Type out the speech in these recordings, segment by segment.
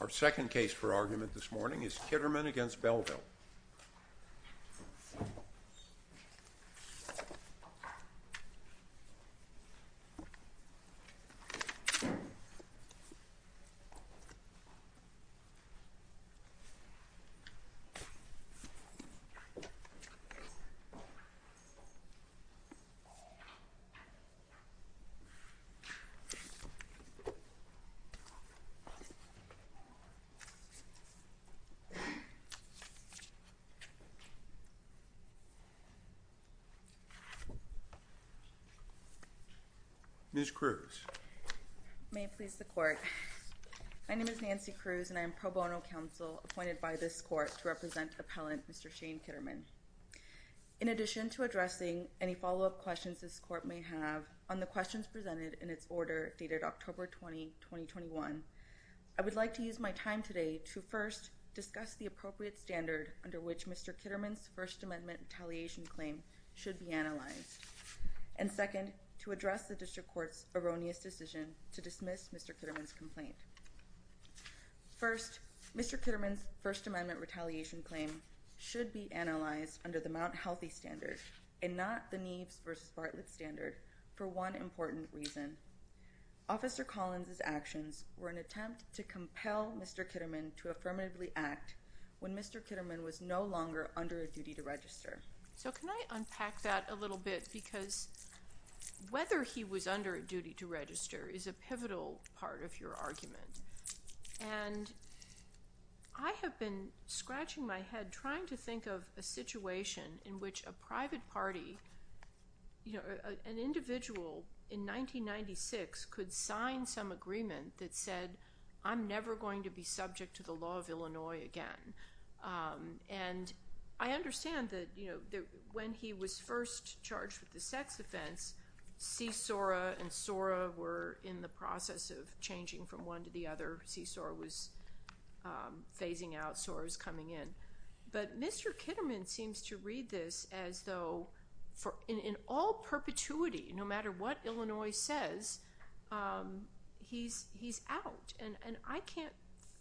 Our second case for argument this morning is Kitterman v. Belleville NANCY CRUZ My name is Nancy Cruz and I am pro bono counsel appointed by this court to represent Appellant Mr. Shane Kitterman. In addition to addressing any follow up questions this court may have on the questions presented in its order dated October 20, 2021, I would like to use my time today to first discuss the appropriate standard under which Mr. Kitterman's First Amendment Retaliation Claim should be analyzed, and second, to address the District Court's erroneous decision to dismiss Mr. Kitterman's complaint. First, Mr. Kitterman's First Amendment Retaliation Claim should be analyzed under the Mount Healthy Standard and not the Neves v. Bartlett Standard for one important reason. Officer Collins' actions were an attempt to compel Mr. Kitterman to affirmatively act when Mr. Kitterman was no longer under a duty to register. So can I unpack that a little bit, because whether he was under a duty to register is a pivotal part of your argument. And I have been scratching my head trying to think of a situation in which a private party, you know, an individual in 1996 could sign some agreement that said, I'm never going to be subject to the law of Illinois again. And I understand that, you know, when he was first charged with the sex offense, Csora and Sora were in the process of changing from one to the other. Csora was phasing out, Sora was coming in. But Mr. Kitterman seems to read this as though in all perpetuity, no matter what Illinois says, he's out. And I can't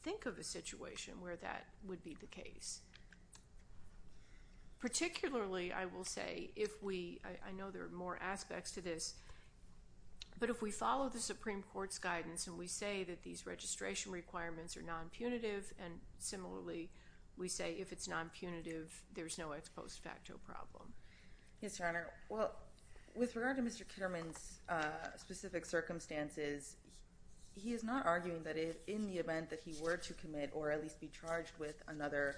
think of a situation where that would be the case. Particularly, I will say, if we, I know there are more aspects to this, but if we follow the Supreme Court's guidance and we say that these registration requirements are we say if it's non-punitive, there's no ex post facto problem. Yes, Your Honor. Well, with regard to Mr. Kitterman's specific circumstances, he is not arguing that in the event that he were to commit or at least be charged with another,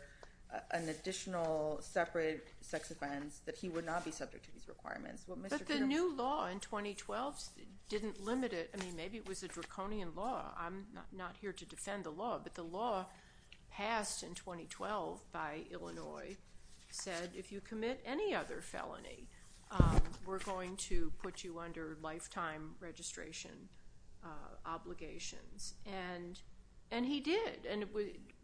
an additional separate sex offense, that he would not be subject to these requirements. But the new law in 2012 didn't limit it. I mean, maybe it was a draconian law. I'm not here to defend the law, but the law passed in 2012 by Illinois said if you commit any other felony, we're going to put you under lifetime registration obligations. And he did. And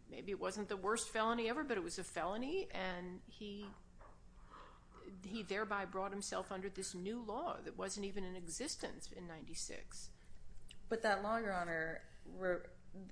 maybe it wasn't the worst felony ever, but it was a felony. And he thereby brought himself under this new law that wasn't even in existence in 96. But that law, Your Honor,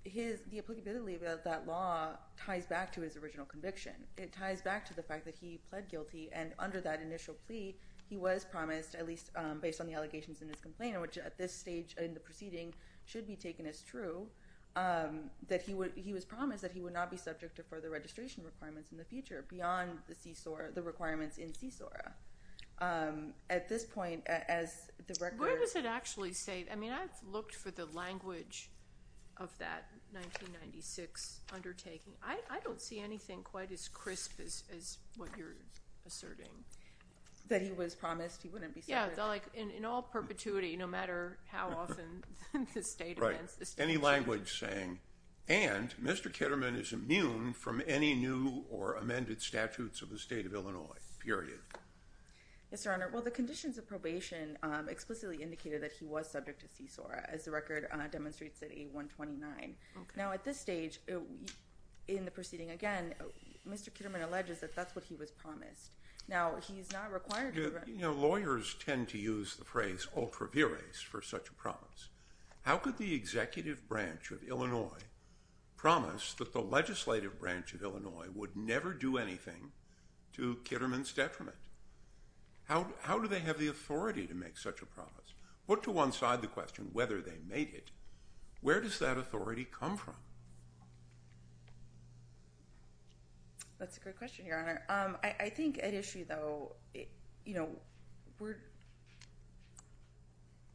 the applicability of that law ties back to his original conviction. It ties back to the fact that he pled guilty. And under that initial plea, he was promised, at least based on the allegations in his complaint, which at this stage in the proceeding should be taken as true, that he would, he was promised that he would not be subject to further registration requirements in the future beyond the CSORA, the requirements in CSORA. At this point, as the record... What does it actually say? I mean, I've looked for the language of that 1996 undertaking. I don't see anything quite as crisp as what you're asserting. That he was promised he wouldn't be subject... Yeah, like in all perpetuity, no matter how often the state... Right. Any language saying, and Mr. Kitterman is immune from any new or amended statutes of the state of Illinois, period. Yes, Your Honor. Well, the conditions of probation explicitly indicated that he was subject to CSORA, as the record demonstrates at 8-129. Now, at this stage in the proceeding, again, Mr. Kitterman alleges that that's what he was promised. Now, he's not required to... Lawyers tend to use the phrase ultra viris for such a promise. How could the executive branch of Illinois promise that the legislative branch of Illinois would never do anything to Kitterman's detriment? How do they have the authority to make such a promise? Put to one side the question, whether they made it, where does that authority come from? That's a great question, Your Honor. I think at issue, though...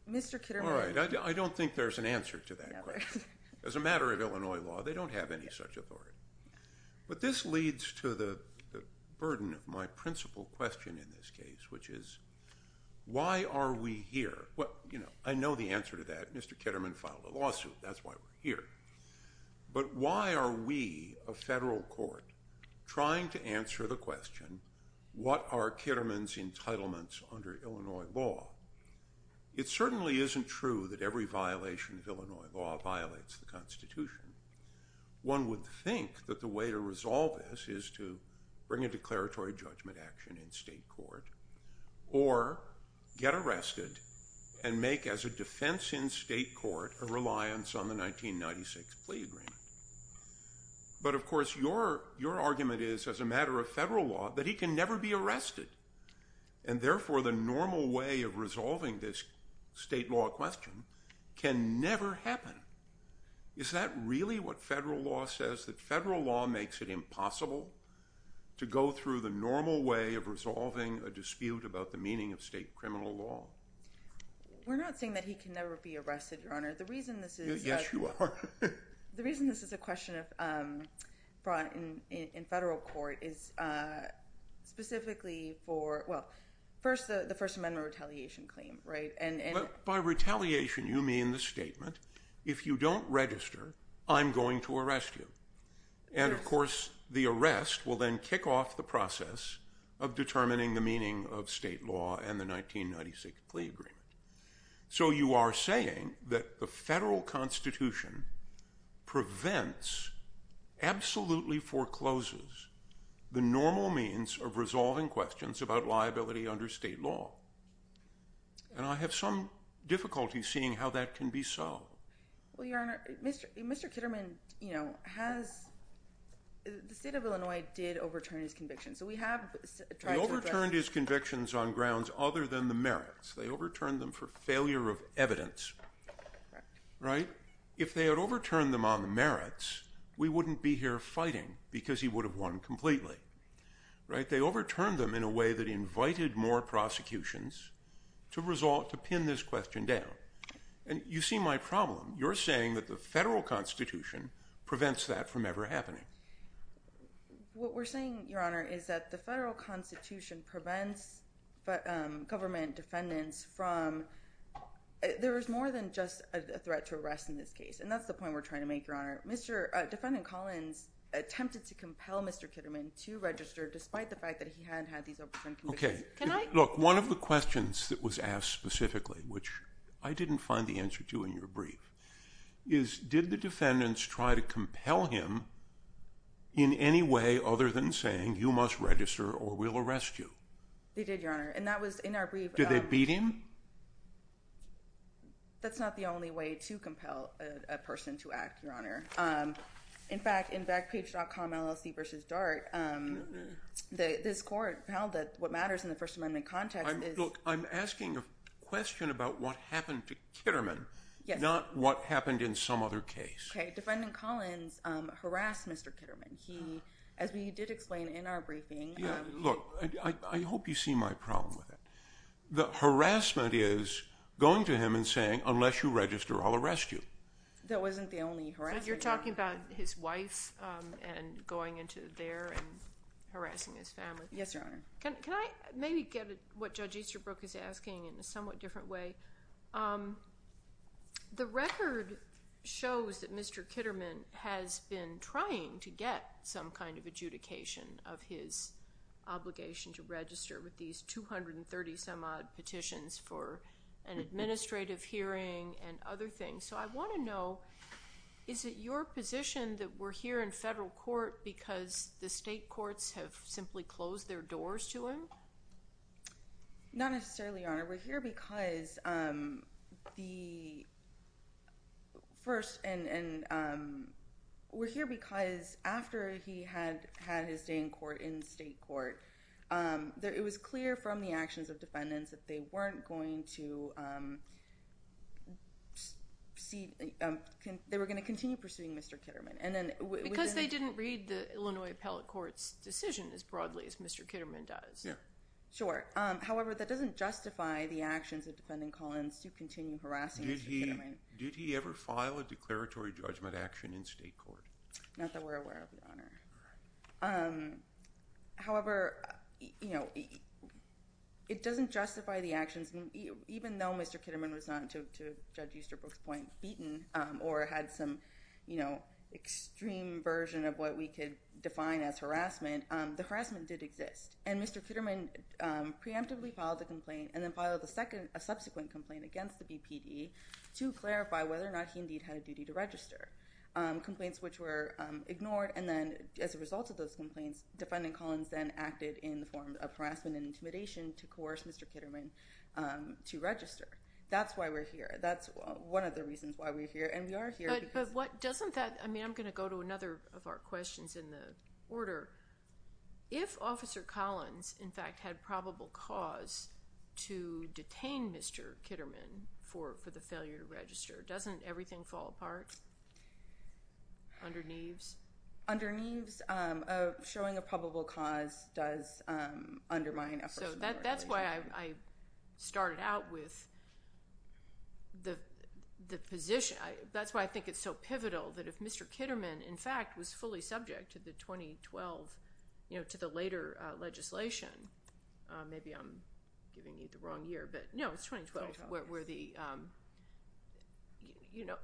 Mr. Kitterman... All right. I don't think there's an answer to that question. As a matter of Illinois law, they don't have any such authority. But this leads to the burden of my principal question in this case, which is, why are we here? I know the answer to that. Mr. Kitterman filed a lawsuit. That's why we're here. But why are we, a federal court, trying to answer the question, what are Kitterman's entitlements under Illinois law? It certainly isn't true that every violation of Illinois law violates the Constitution. One would think that the way to resolve this is to bring a declaratory judgment action in state court or get arrested and make, as a defense in state court, a reliance on the 1996 plea agreement. But of course, your argument is, as a matter of federal law, that he can never be arrested. And therefore, the normal way of resolving a dispute about the meaning of state criminal law can never happen. Is that really what federal law says? That federal law makes it impossible to go through the normal way of resolving a dispute about the meaning of state criminal law? We're not saying that he can never be arrested, Your Honor. The reason this is... Yes, you are. The reason this is a question brought in federal court is specifically for, well, first, the First you mean the statement, if you don't register, I'm going to arrest you. And of course, the arrest will then kick off the process of determining the meaning of state law and the 1996 plea agreement. So you are saying that the federal Constitution prevents, absolutely forecloses, the normal means of resolving questions about liability under state law. And I have some difficulty seeing how that can be so. Well, Your Honor, Mr. Kitterman has... The state of Illinois did overturn his conviction. So we have tried to address... They overturned his convictions on grounds other than the merits. They overturned them for failure of evidence. If they had overturned them on the merits, we wouldn't be here fighting because he to pin this question down. And you see my problem. You're saying that the federal Constitution prevents that from ever happening. What we're saying, Your Honor, is that the federal Constitution prevents government defendants from... There is more than just a threat to arrest in this case. And that's the point we're trying to make, Your Honor. Defendant Collins attempted to compel Mr. Kitterman to register despite the fact that he hadn't had these overturned convictions. Okay. Can I... One of the questions that was asked specifically, which I didn't find the answer to in your brief, is did the defendants try to compel him in any way other than saying, you must register or we'll arrest you? They did, Your Honor. And that was in our brief... Did they beat him? That's not the only way to compel a person to act, Your Honor. In fact, in Backpage.com LLC v. Dart, this court held that what matters in the First Amendment context is... Look, I'm asking a question about what happened to Kitterman, not what happened in some other case. Okay. Defendant Collins harassed Mr. Kitterman. He, as we did explain in our briefing... Yeah. Look, I hope you see my problem with it. The harassment is going to him and saying, unless you register, I'll arrest you. That wasn't the only harassment. You're talking about his wife and going into there and harassing his family. Yes, Your Honor. Can I maybe get what Judge Easterbrook is asking in a somewhat different way? The record shows that Mr. Kitterman has been trying to get some kind of adjudication of his obligation to register with these 230 some odd petitions for an administrative hearing and other things. So I want to know, is it your position that we're here in federal court because the state courts have simply closed their doors to him? Not necessarily, Your Honor. We're here because after he had his day in state court, it was clear from the actions of defendants that they weren't going to proceed. They were going to continue pursuing Mr. Kitterman. Because they didn't read the Illinois Appellate Court's decision as broadly as Mr. Kitterman does. Sure. However, that doesn't justify the actions of defendant Collins to continue harassing Mr. Kitterman. Did he ever file a declaratory judgment action in state court? Not that we're aware of, Your Honor. However, it doesn't justify the actions, even though Mr. Kitterman was not, to Judge Easterbrook's point, beaten or had some extreme version of what we could define as harassment, the harassment did exist. And Mr. Kitterman preemptively filed a complaint and then filed a subsequent complaint against the BPD to clarify whether or not he indeed had a duty to register. Complaints which were ignored and then as a result of those complaints, defendant Collins then acted in the form of harassment and intimidation to coerce Mr. Kitterman to register. That's why we're here. That's one of the reasons why we're here. And we are here because- But what doesn't that, I mean, I'm going to go to another of our questions in the order. If Officer Collins, in fact, had probable cause to detain Mr. Kitterman for the failure to register, doesn't everything fall apart under Neves? Under Neves, showing a probable cause does undermine- So that's why I started out with the position. That's why I think it's so pivotal that if Mr. Kitterman, in fact, was fully subject to the 2012, you know, to the later legislation, maybe I'm giving you the wrong year, but no, it's 2012 where the, you know,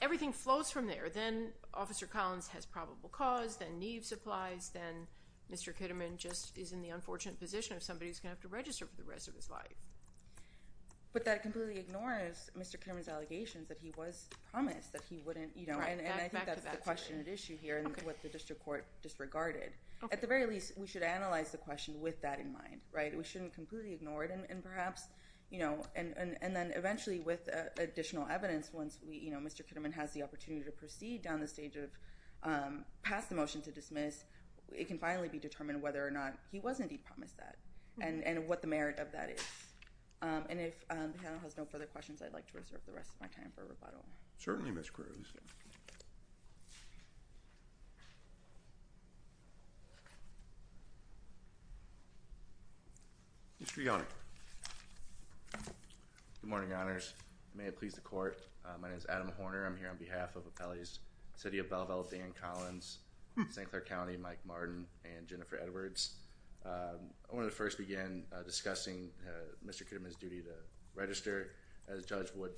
everything flows from there. Then Officer Collins has probable cause, then Neves applies, then Mr. Kitterman just is in the unfortunate position of somebody who's going to have to register for the rest of his life. But that completely ignores Mr. Kitterman's allegations that he was promised that he wouldn't, you know, and I think that's the question at issue here and what the district court disregarded. At the very least, we should analyze the question with that in mind, right? We shouldn't completely ignore it and perhaps, you know, and then eventually with additional evidence, once we, you know, Mr. Kitterman has the opportunity to proceed down the stage of pass the motion to dismiss, it can finally be determined whether or not he was indeed promised that and what the merit of that is. And if the panel has no further questions, I'd like to reserve the rest of my time for rebuttal. Certainly, Ms. Cruz. Thank you. Good morning, Your Honors. May it please the court. My name is Adam Horner. I'm here on behalf of Appellee's City of Belleville, Dan Collins, St. Clair County, Mike Martin, and Jennifer Edwards. I want to first begin discussing Mr. Kitterman's duty to register. As Judge Wood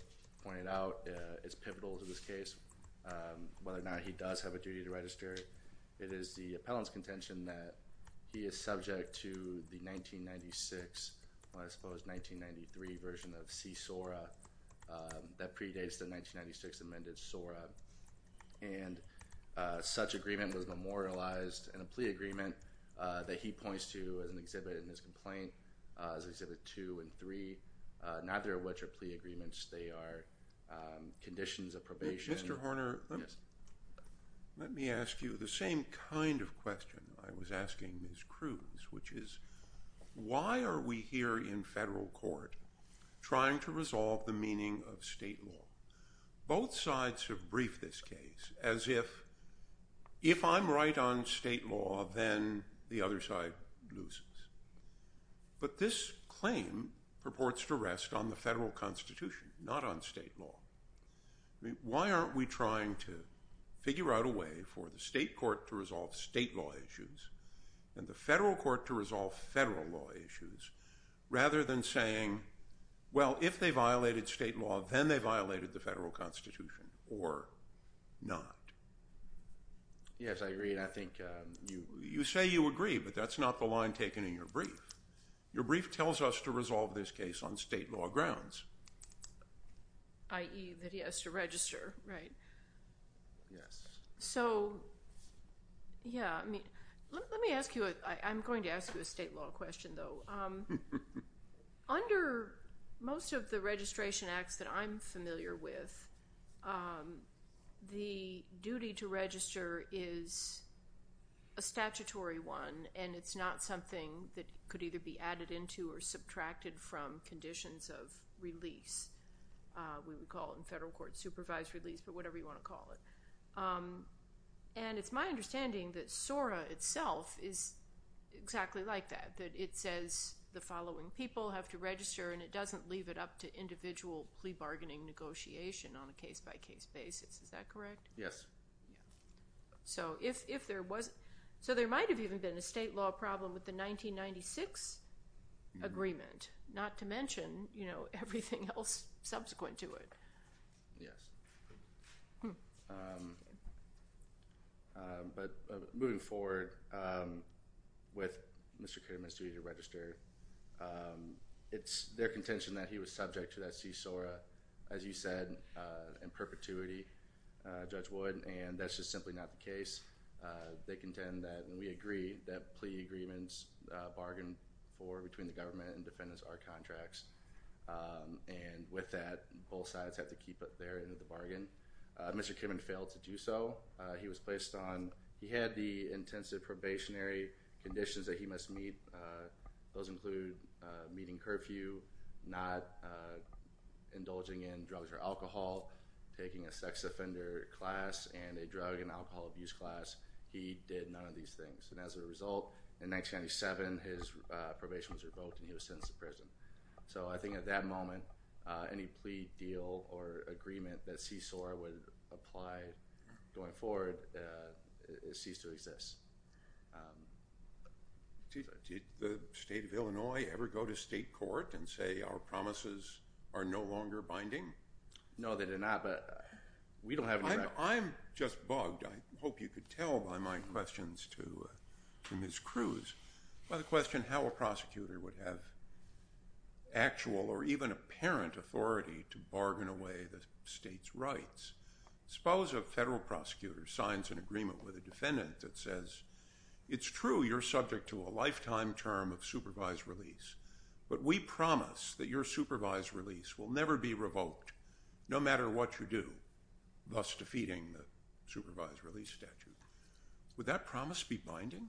pointed out, it's pivotal to this case, whether or not he does have a duty to register. It is the appellant's contention that he is subject to the 1996, well, I suppose 1993 version of C-SORA that predates the 1996 amended SORA. And such agreement was memorialized in a plea agreement that he points to as an exhibit in his complaint, as exhibit two and three, neither of which are plea agreements. They are conditions of probation. Mr. Horner, let me ask you the same kind of question I was asking Ms. Cruz, which is, why are we here in federal court trying to resolve the meaning of state law? Both sides have briefed this case as if, if I'm right on state law, then the other side loses. But this claim purports to rest on the federal constitution, not on state law. Why aren't we trying to figure out a way for the state court to resolve state law issues and the federal court to resolve federal law issues, rather than saying, well, if they violated state law, then they violated the federal constitution or not? Yes, I agree. And I think, you say you agree, but that's not the line taken in your brief. Your brief tells us to resolve this case on state law grounds. I.e. that he has to register, right? Yes. So, yeah, I mean, let me ask you, I'm going to ask you a state law question though. So, under most of the registration acts that I'm familiar with, the duty to register is a statutory one, and it's not something that could either be added into or subtracted from conditions of release. We would call it in federal court supervised release, but whatever you want to call it. And it's my understanding that SORA itself is the following people have to register, and it doesn't leave it up to individual plea bargaining negotiation on a case by case basis. Is that correct? Yes. So, if there was, so there might have even been a state law problem with the 1996 agreement, not to mention, you know, everything else subsequent to it. Yes. But moving forward, with Mr. Kitterman's duty to register, it's their contention that he was subject to that CSORA, as you said, in perpetuity, Judge Wood, and that's just simply not the case. They contend that, and we agree, that plea agreements bargain for between the government and defendants are contracts. And with that, both sides have to keep it there into the bargain. Mr. Kitterman failed to do so. He was placed on, he had the intensive probationary conditions that he must meet. Those include meeting curfew, not indulging in drugs or alcohol, taking a sex offender class and a drug and alcohol abuse class. He did none of these things. And as a result, in 1997, his probation was revoked and he was sentenced to prison. So I think at that moment, any plea deal or agreement that CSORA would apply going forward ceased to exist. Did the state of Illinois ever go to state court and say our promises are no longer binding? No, they did not, but we don't have any records. I'm just bugged. I hope you could tell by my questions to Ms. Cruz. By the question how a prosecutor would have actual or even apparent authority to bargain away the state's rights. Suppose a federal prosecutor signs an agreement with a defendant that says it's true you're subject to a lifetime term of supervised release, but we promise that your supervised release will never be revoked, no matter what you do, thus defeating the supervised release statute. Would that promise be binding?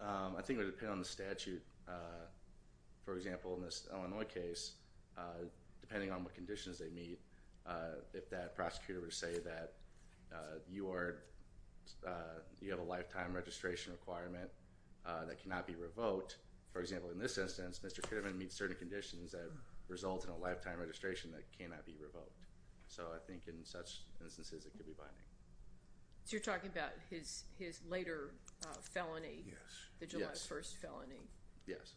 I think it would depend on the statute. For example, in this Illinois case, depending on what conditions they meet, if that prosecutor were to say that you have a lifetime registration requirement that cannot be revoked. For example, in this instance, Mr. Kidman meets certain conditions that result in a lifetime registration that cannot be revoked. So I think in such instances, it could be binding. So you're talking about his later felony? Yes. The July 1st felony? Yes.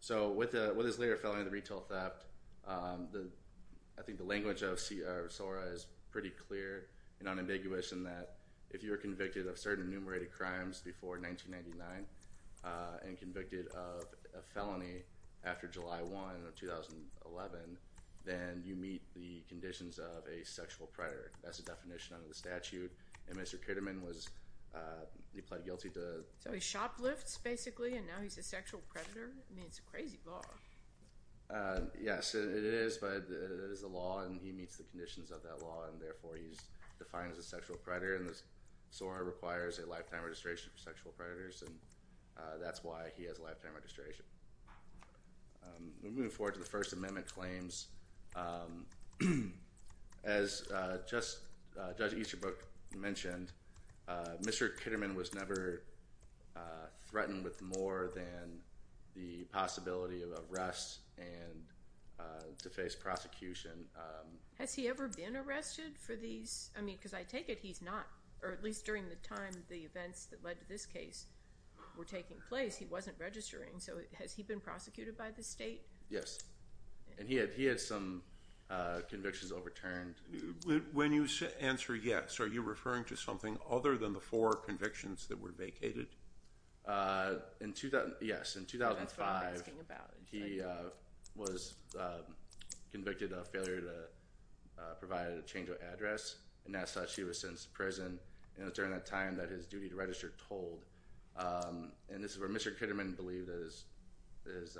So with his later felony, the retail theft, I think the language of CSORA is pretty clear in unambiguous in that if you were convicted of certain enumerated crimes before 1999 and convicted of a felony after July 1 of 2011, then you meet the conditions of a sexual predator. That's the definition under the statute, and Mr. Kidman, he pled guilty to— So he shoplifts, basically, and now he's a sexual predator? I mean, it's a crazy law. Yes, it is, but it is a law, and he meets the conditions of that law, and therefore, he's defined as a sexual predator, and CSORA requires a lifetime registration for sexual predators, and that's why he has a lifetime registration. We move forward to the First Amendment claims. As Judge Easterbrook mentioned, Mr. Kidman was never threatened with more than the possibility of arrest and to face prosecution. Has he ever been arrested for these? I mean, because I take it he's not, or at least during the time the events that led to this case were taking place, he wasn't registering, so has he been prosecuted by the state? Yes, and he had some convictions overturned. When you answer yes, are you referring to something other than the four convictions that were vacated? Yes, in 2005, he was convicted of failure to provide a change of address, and as such, he was sentenced to prison, and it was during that time that his duty to register tolled, and this is where Mr. Kidman believed that his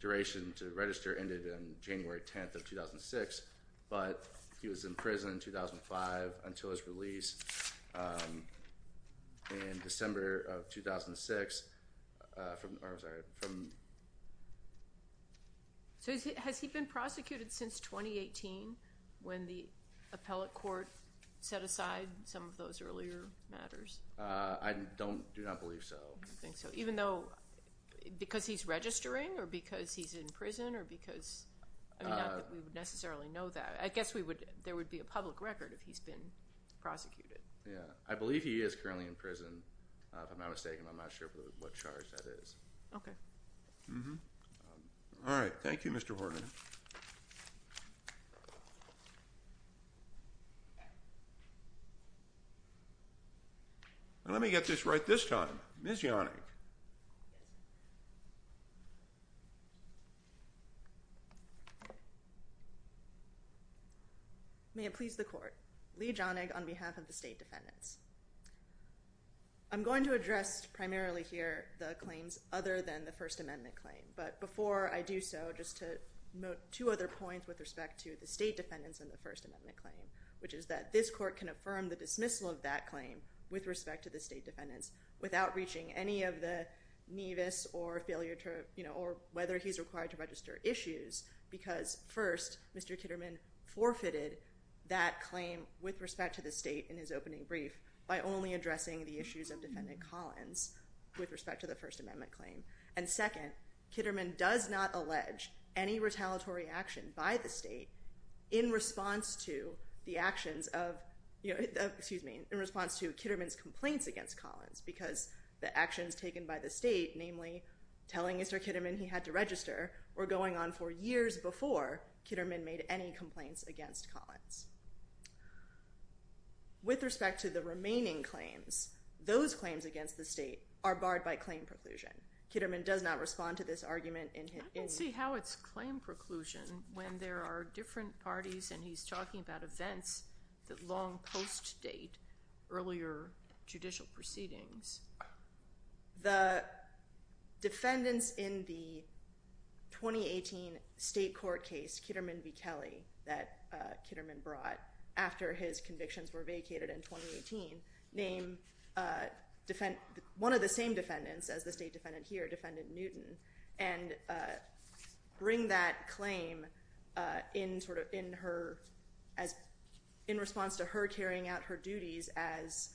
duration to register ended on January 10th of 2006, but he was in prison in 2005 until his release in December of 2006. I'm sorry. Has he been prosecuted since 2018 when the appellate court set aside some of those earlier matters? I do not believe so. I don't think so, even though, because he's registering, or because he's in prison, or because, I mean, not that we would necessarily know that. I guess there would be a public record if he's been prosecuted. Yeah, I believe he is currently in prison. If I'm not mistaken, I'm not sure what charge that is. Okay. All right. Thank you, Mr. Horgan. Let me get this right this time. Ms. Yonig. Yes. May it please the court. Leigh Yonig on behalf of the state defendants. I'm going to address primarily here the claims other than the First Amendment claim, but before I do so, just to note two other points with respect to the state defendants and the First Amendment claim, which is that this court can affirm the dismissal of that claim with respect to the state defendants without reaching any of the nevus or whether he's required to register issues because, first, Mr. Kitterman forfeited that claim with respect to the state in his opening brief by only addressing the issues of Defendant Collins with respect to the First Amendment claim, and second, Kitterman does not allege any retaliatory action by the state in response to the actions of, excuse me, in response to Kitterman's complaints against Collins because the actions taken by the state, namely telling Mr. Kitterman he had to register, were going on for years before Kitterman made any complaints against Collins. With respect to the remaining claims, those claims against the state are barred by claim preclusion. Kitterman does not respond to this argument in his... I don't see how it's claim parties, and he's talking about events that long post-date earlier judicial proceedings. The defendants in the 2018 state court case, Kitterman v. Kelly that Kitterman brought after his convictions were vacated in 2018, named one of the same defendants as the state here, Defendant Newton, and bring that claim in response to her carrying out her duties as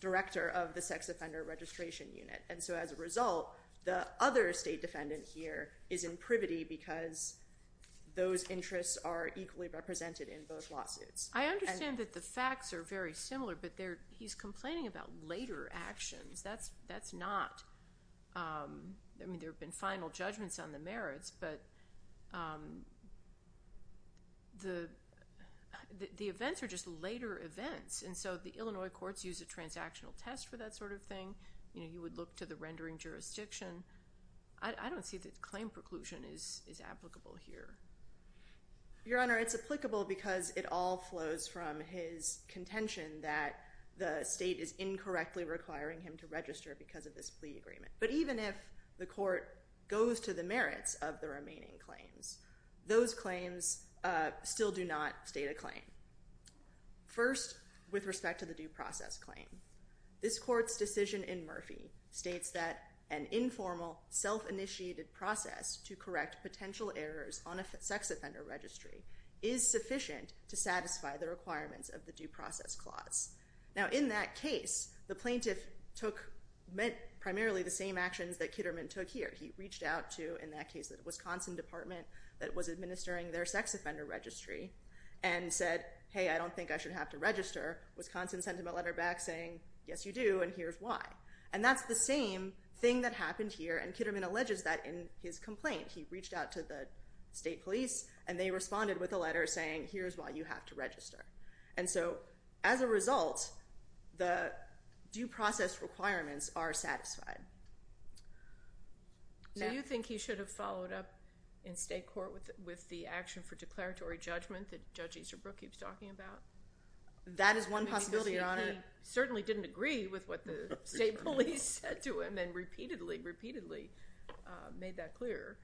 director of the Sex Offender Registration Unit. And so as a result, the other state defendant here is in privity because those interests are equally represented in both lawsuits. I understand that the facts are very similar, but he's complaining about later actions. That's not I mean, there have been final judgments on the merits, but the events are just later events. And so the Illinois courts use a transactional test for that sort of thing. You would look to the rendering jurisdiction. I don't see that claim preclusion is applicable here. Your Honor, it's applicable because it all flows from his contention that the state is incorrectly requiring him to register because of this plea agreement. But even if the court goes to the merits of the remaining claims, those claims still do not state a claim. First, with respect to the due process claim, this court's decision in Murphy states that an informal self-initiated process to correct potential errors on a sex offender registry is sufficient to satisfy the requirements of the due process clause. Now, in that case, the plaintiff took primarily the same actions that Kitterman took here. He reached out to, in that case, the Wisconsin Department that was administering their sex offender registry and said, hey, I don't think I should have to register. Wisconsin sent him a letter back saying, yes, you do, and here's why. And that's the same thing that happened here. And Kitterman alleges that in his complaint. He reached out to the state police, and they responded with a letter saying, here's why you have to register. And so as a result, the due process requirements are satisfied. Do you think he should have followed up in state court with the action for declaratory judgment that Judge Easterbrook keeps talking about? That is one possibility, Your Honor. He certainly didn't agree with what the state police said to him and repeatedly, repeatedly made that clear.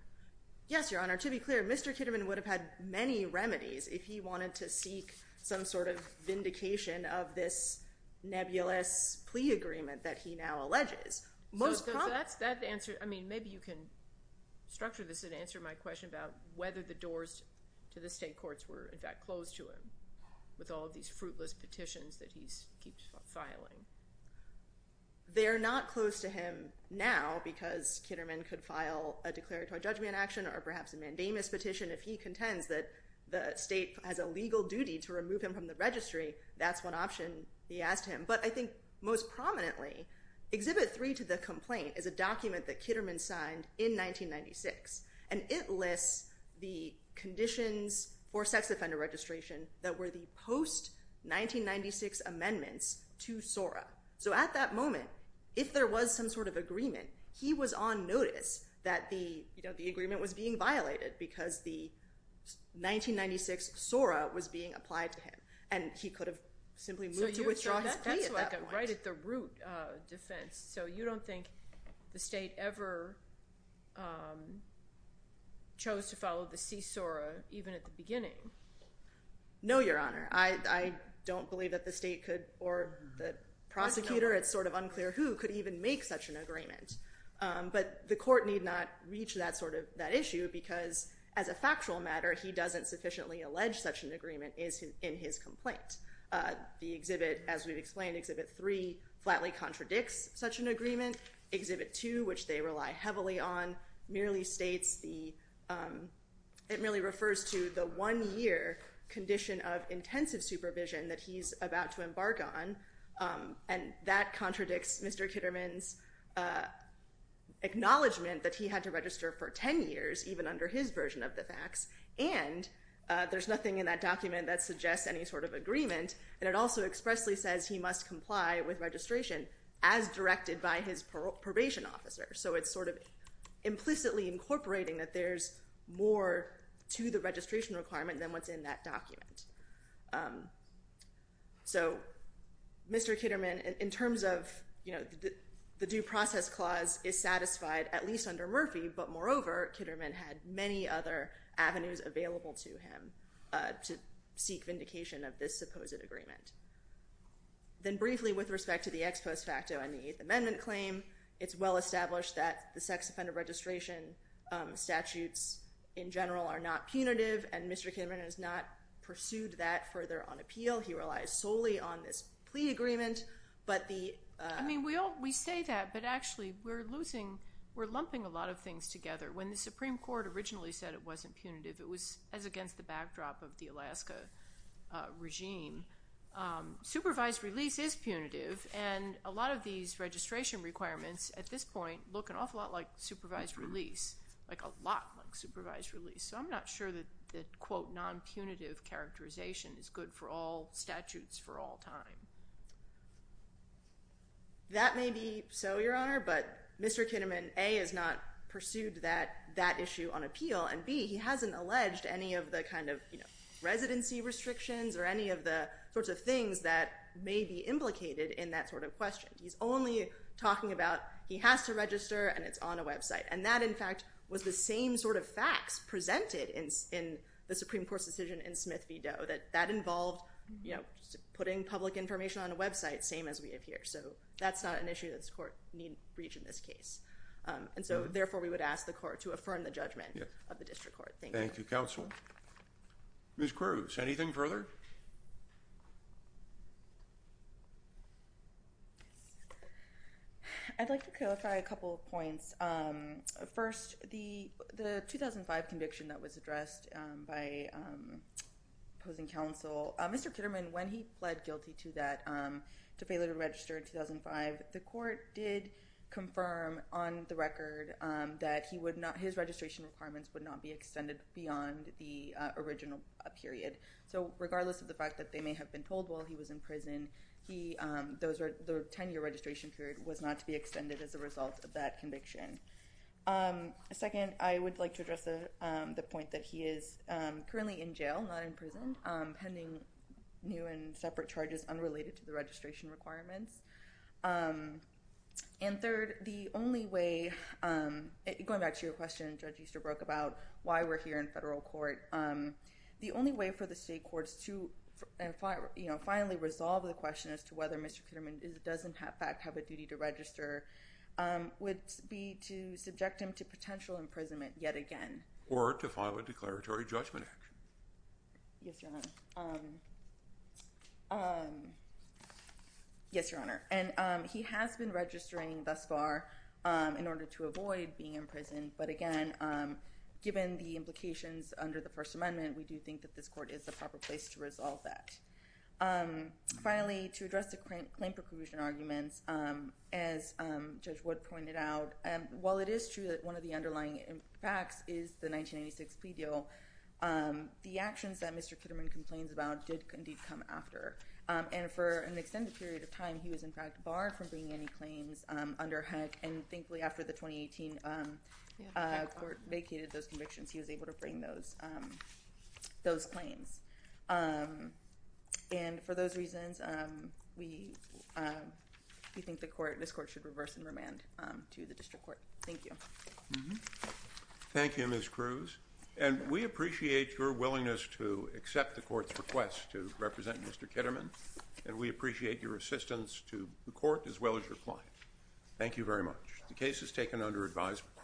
Yes, Your Honor. To be clear, Mr. Kitterman would have had many remedies if he wanted to seek some sort of vindication of this nebulous plea agreement that he now alleges. Most probably. I mean, maybe you can structure this and answer my question about whether the doors to the state courts were, in fact, closed to him with all of these fruitless petitions that he keeps filing. They are not closed to him now because Kitterman could file a declaratory judgment action or perhaps a mandamus petition if he contends that the state has a legal duty to remove him from the registry. That's one option he asked him. But I think most prominently, Exhibit 3 to the complaint is a document that Kitterman signed in 1996, and it lists the conditions for sex offender registration that were the post-1996 amendments to SORA. So at that moment, if there was some sort of agreement, he was on notice that the agreement was being violated because the 1996 SORA was being applied to him, and he could have simply moved to withdraw his plea at that point. So that's like a right-at-the-root defense. So you don't think the state ever chose to follow the C-SORA even at the beginning? No, Your Honor. I don't believe that the state could, or the prosecutor, it's sort of unclear who could even make such an agreement. But the court need not reach that issue because as a factual matter, he doesn't sufficiently allege such an agreement is in his complaint. The exhibit, as we've explained, Exhibit 3, flatly contradicts such an agreement. Exhibit 2, which they rely heavily on, merely states the, it merely refers to the one-year condition of Mr. Kitterman's acknowledgement that he had to register for 10 years, even under his version of the facts. And there's nothing in that document that suggests any sort of agreement. And it also expressly says he must comply with registration as directed by his probation officer. So it's sort of implicitly incorporating that there's more to the registration requirement than what's in that the due process clause is satisfied, at least under Murphy. But moreover, Kitterman had many other avenues available to him to seek vindication of this supposed agreement. Then briefly with respect to the ex post facto and the Eighth Amendment claim, it's well established that the sex offender registration statutes in general are not punitive and Mr. Kitterman has not pursued that further on appeal. He relies solely on this agreement, but the- I mean, we all, we say that, but actually we're losing, we're lumping a lot of things together. When the Supreme Court originally said it wasn't punitive, it was as against the backdrop of the Alaska regime. Supervised release is punitive and a lot of these registration requirements at this point look an awful lot like supervised release, like a lot like supervised release. So I'm not sure that the quote, non-punitive characterization is good for all of us. That may be so, Your Honor, but Mr. Kitterman, A, has not pursued that issue on appeal, and B, he hasn't alleged any of the kind of, you know, residency restrictions or any of the sorts of things that may be implicated in that sort of question. He's only talking about he has to register and it's on a website. And that, in fact, was the same sort of facts presented in the Supreme Court's decision in Smith v. Doe, that that involved, you know, putting public information on a website, same as we have here. So that's not an issue that this Court need reach in this case. And so, therefore, we would ask the Court to affirm the judgment of the District Court. Thank you. Thank you, Counsel. Ms. Cruz, anything further? I'd like to clarify a couple of points. First, the 2005 conviction that was addressed by opposing counsel, Mr. Kitterman, when he pled guilty to that, to failure to register in 2005, the Court did confirm on the record that his registration requirements would not be extended beyond the original period. So regardless of the fact that they may have been told while he was in prison, the 10-year registration period was not to be extended as a result of that conviction. Second, I would like to address the point that he is currently in jail, not in prison, pending new and separate charges unrelated to the registration requirements. And third, the only way—going back to your question, Judge Easterbrook, about why we're here in federal court—the only way for the state courts to finally resolve the question as to whether Mr. Kitterman does in fact have a duty to register would be to subject him to potential imprisonment yet again. Or to file a declaratory judgment action. Yes, Your Honor. And he has been registering thus far in order to avoid being in prison. But again, given the implications under the First Amendment, we do think that this court is the proper place to resolve that. Finally, to address the claim preclusion arguments, as Judge Wood pointed out, while it is true that one of the underlying facts is the 1996 plea deal, the actions that Mr. Kitterman complains about did indeed come after. And for an extended period of time, he was in fact barred from bringing any claims under HUD. And thankfully, after the 2018 court vacated those convictions, he was able to bring those claims. And for those reasons, we think this court should reverse and remand to the district court. Thank you. Thank you, Ms. Cruz. And we appreciate your willingness to accept the court's request to the court as well as your client. Thank you very much. The case is taken under advisement.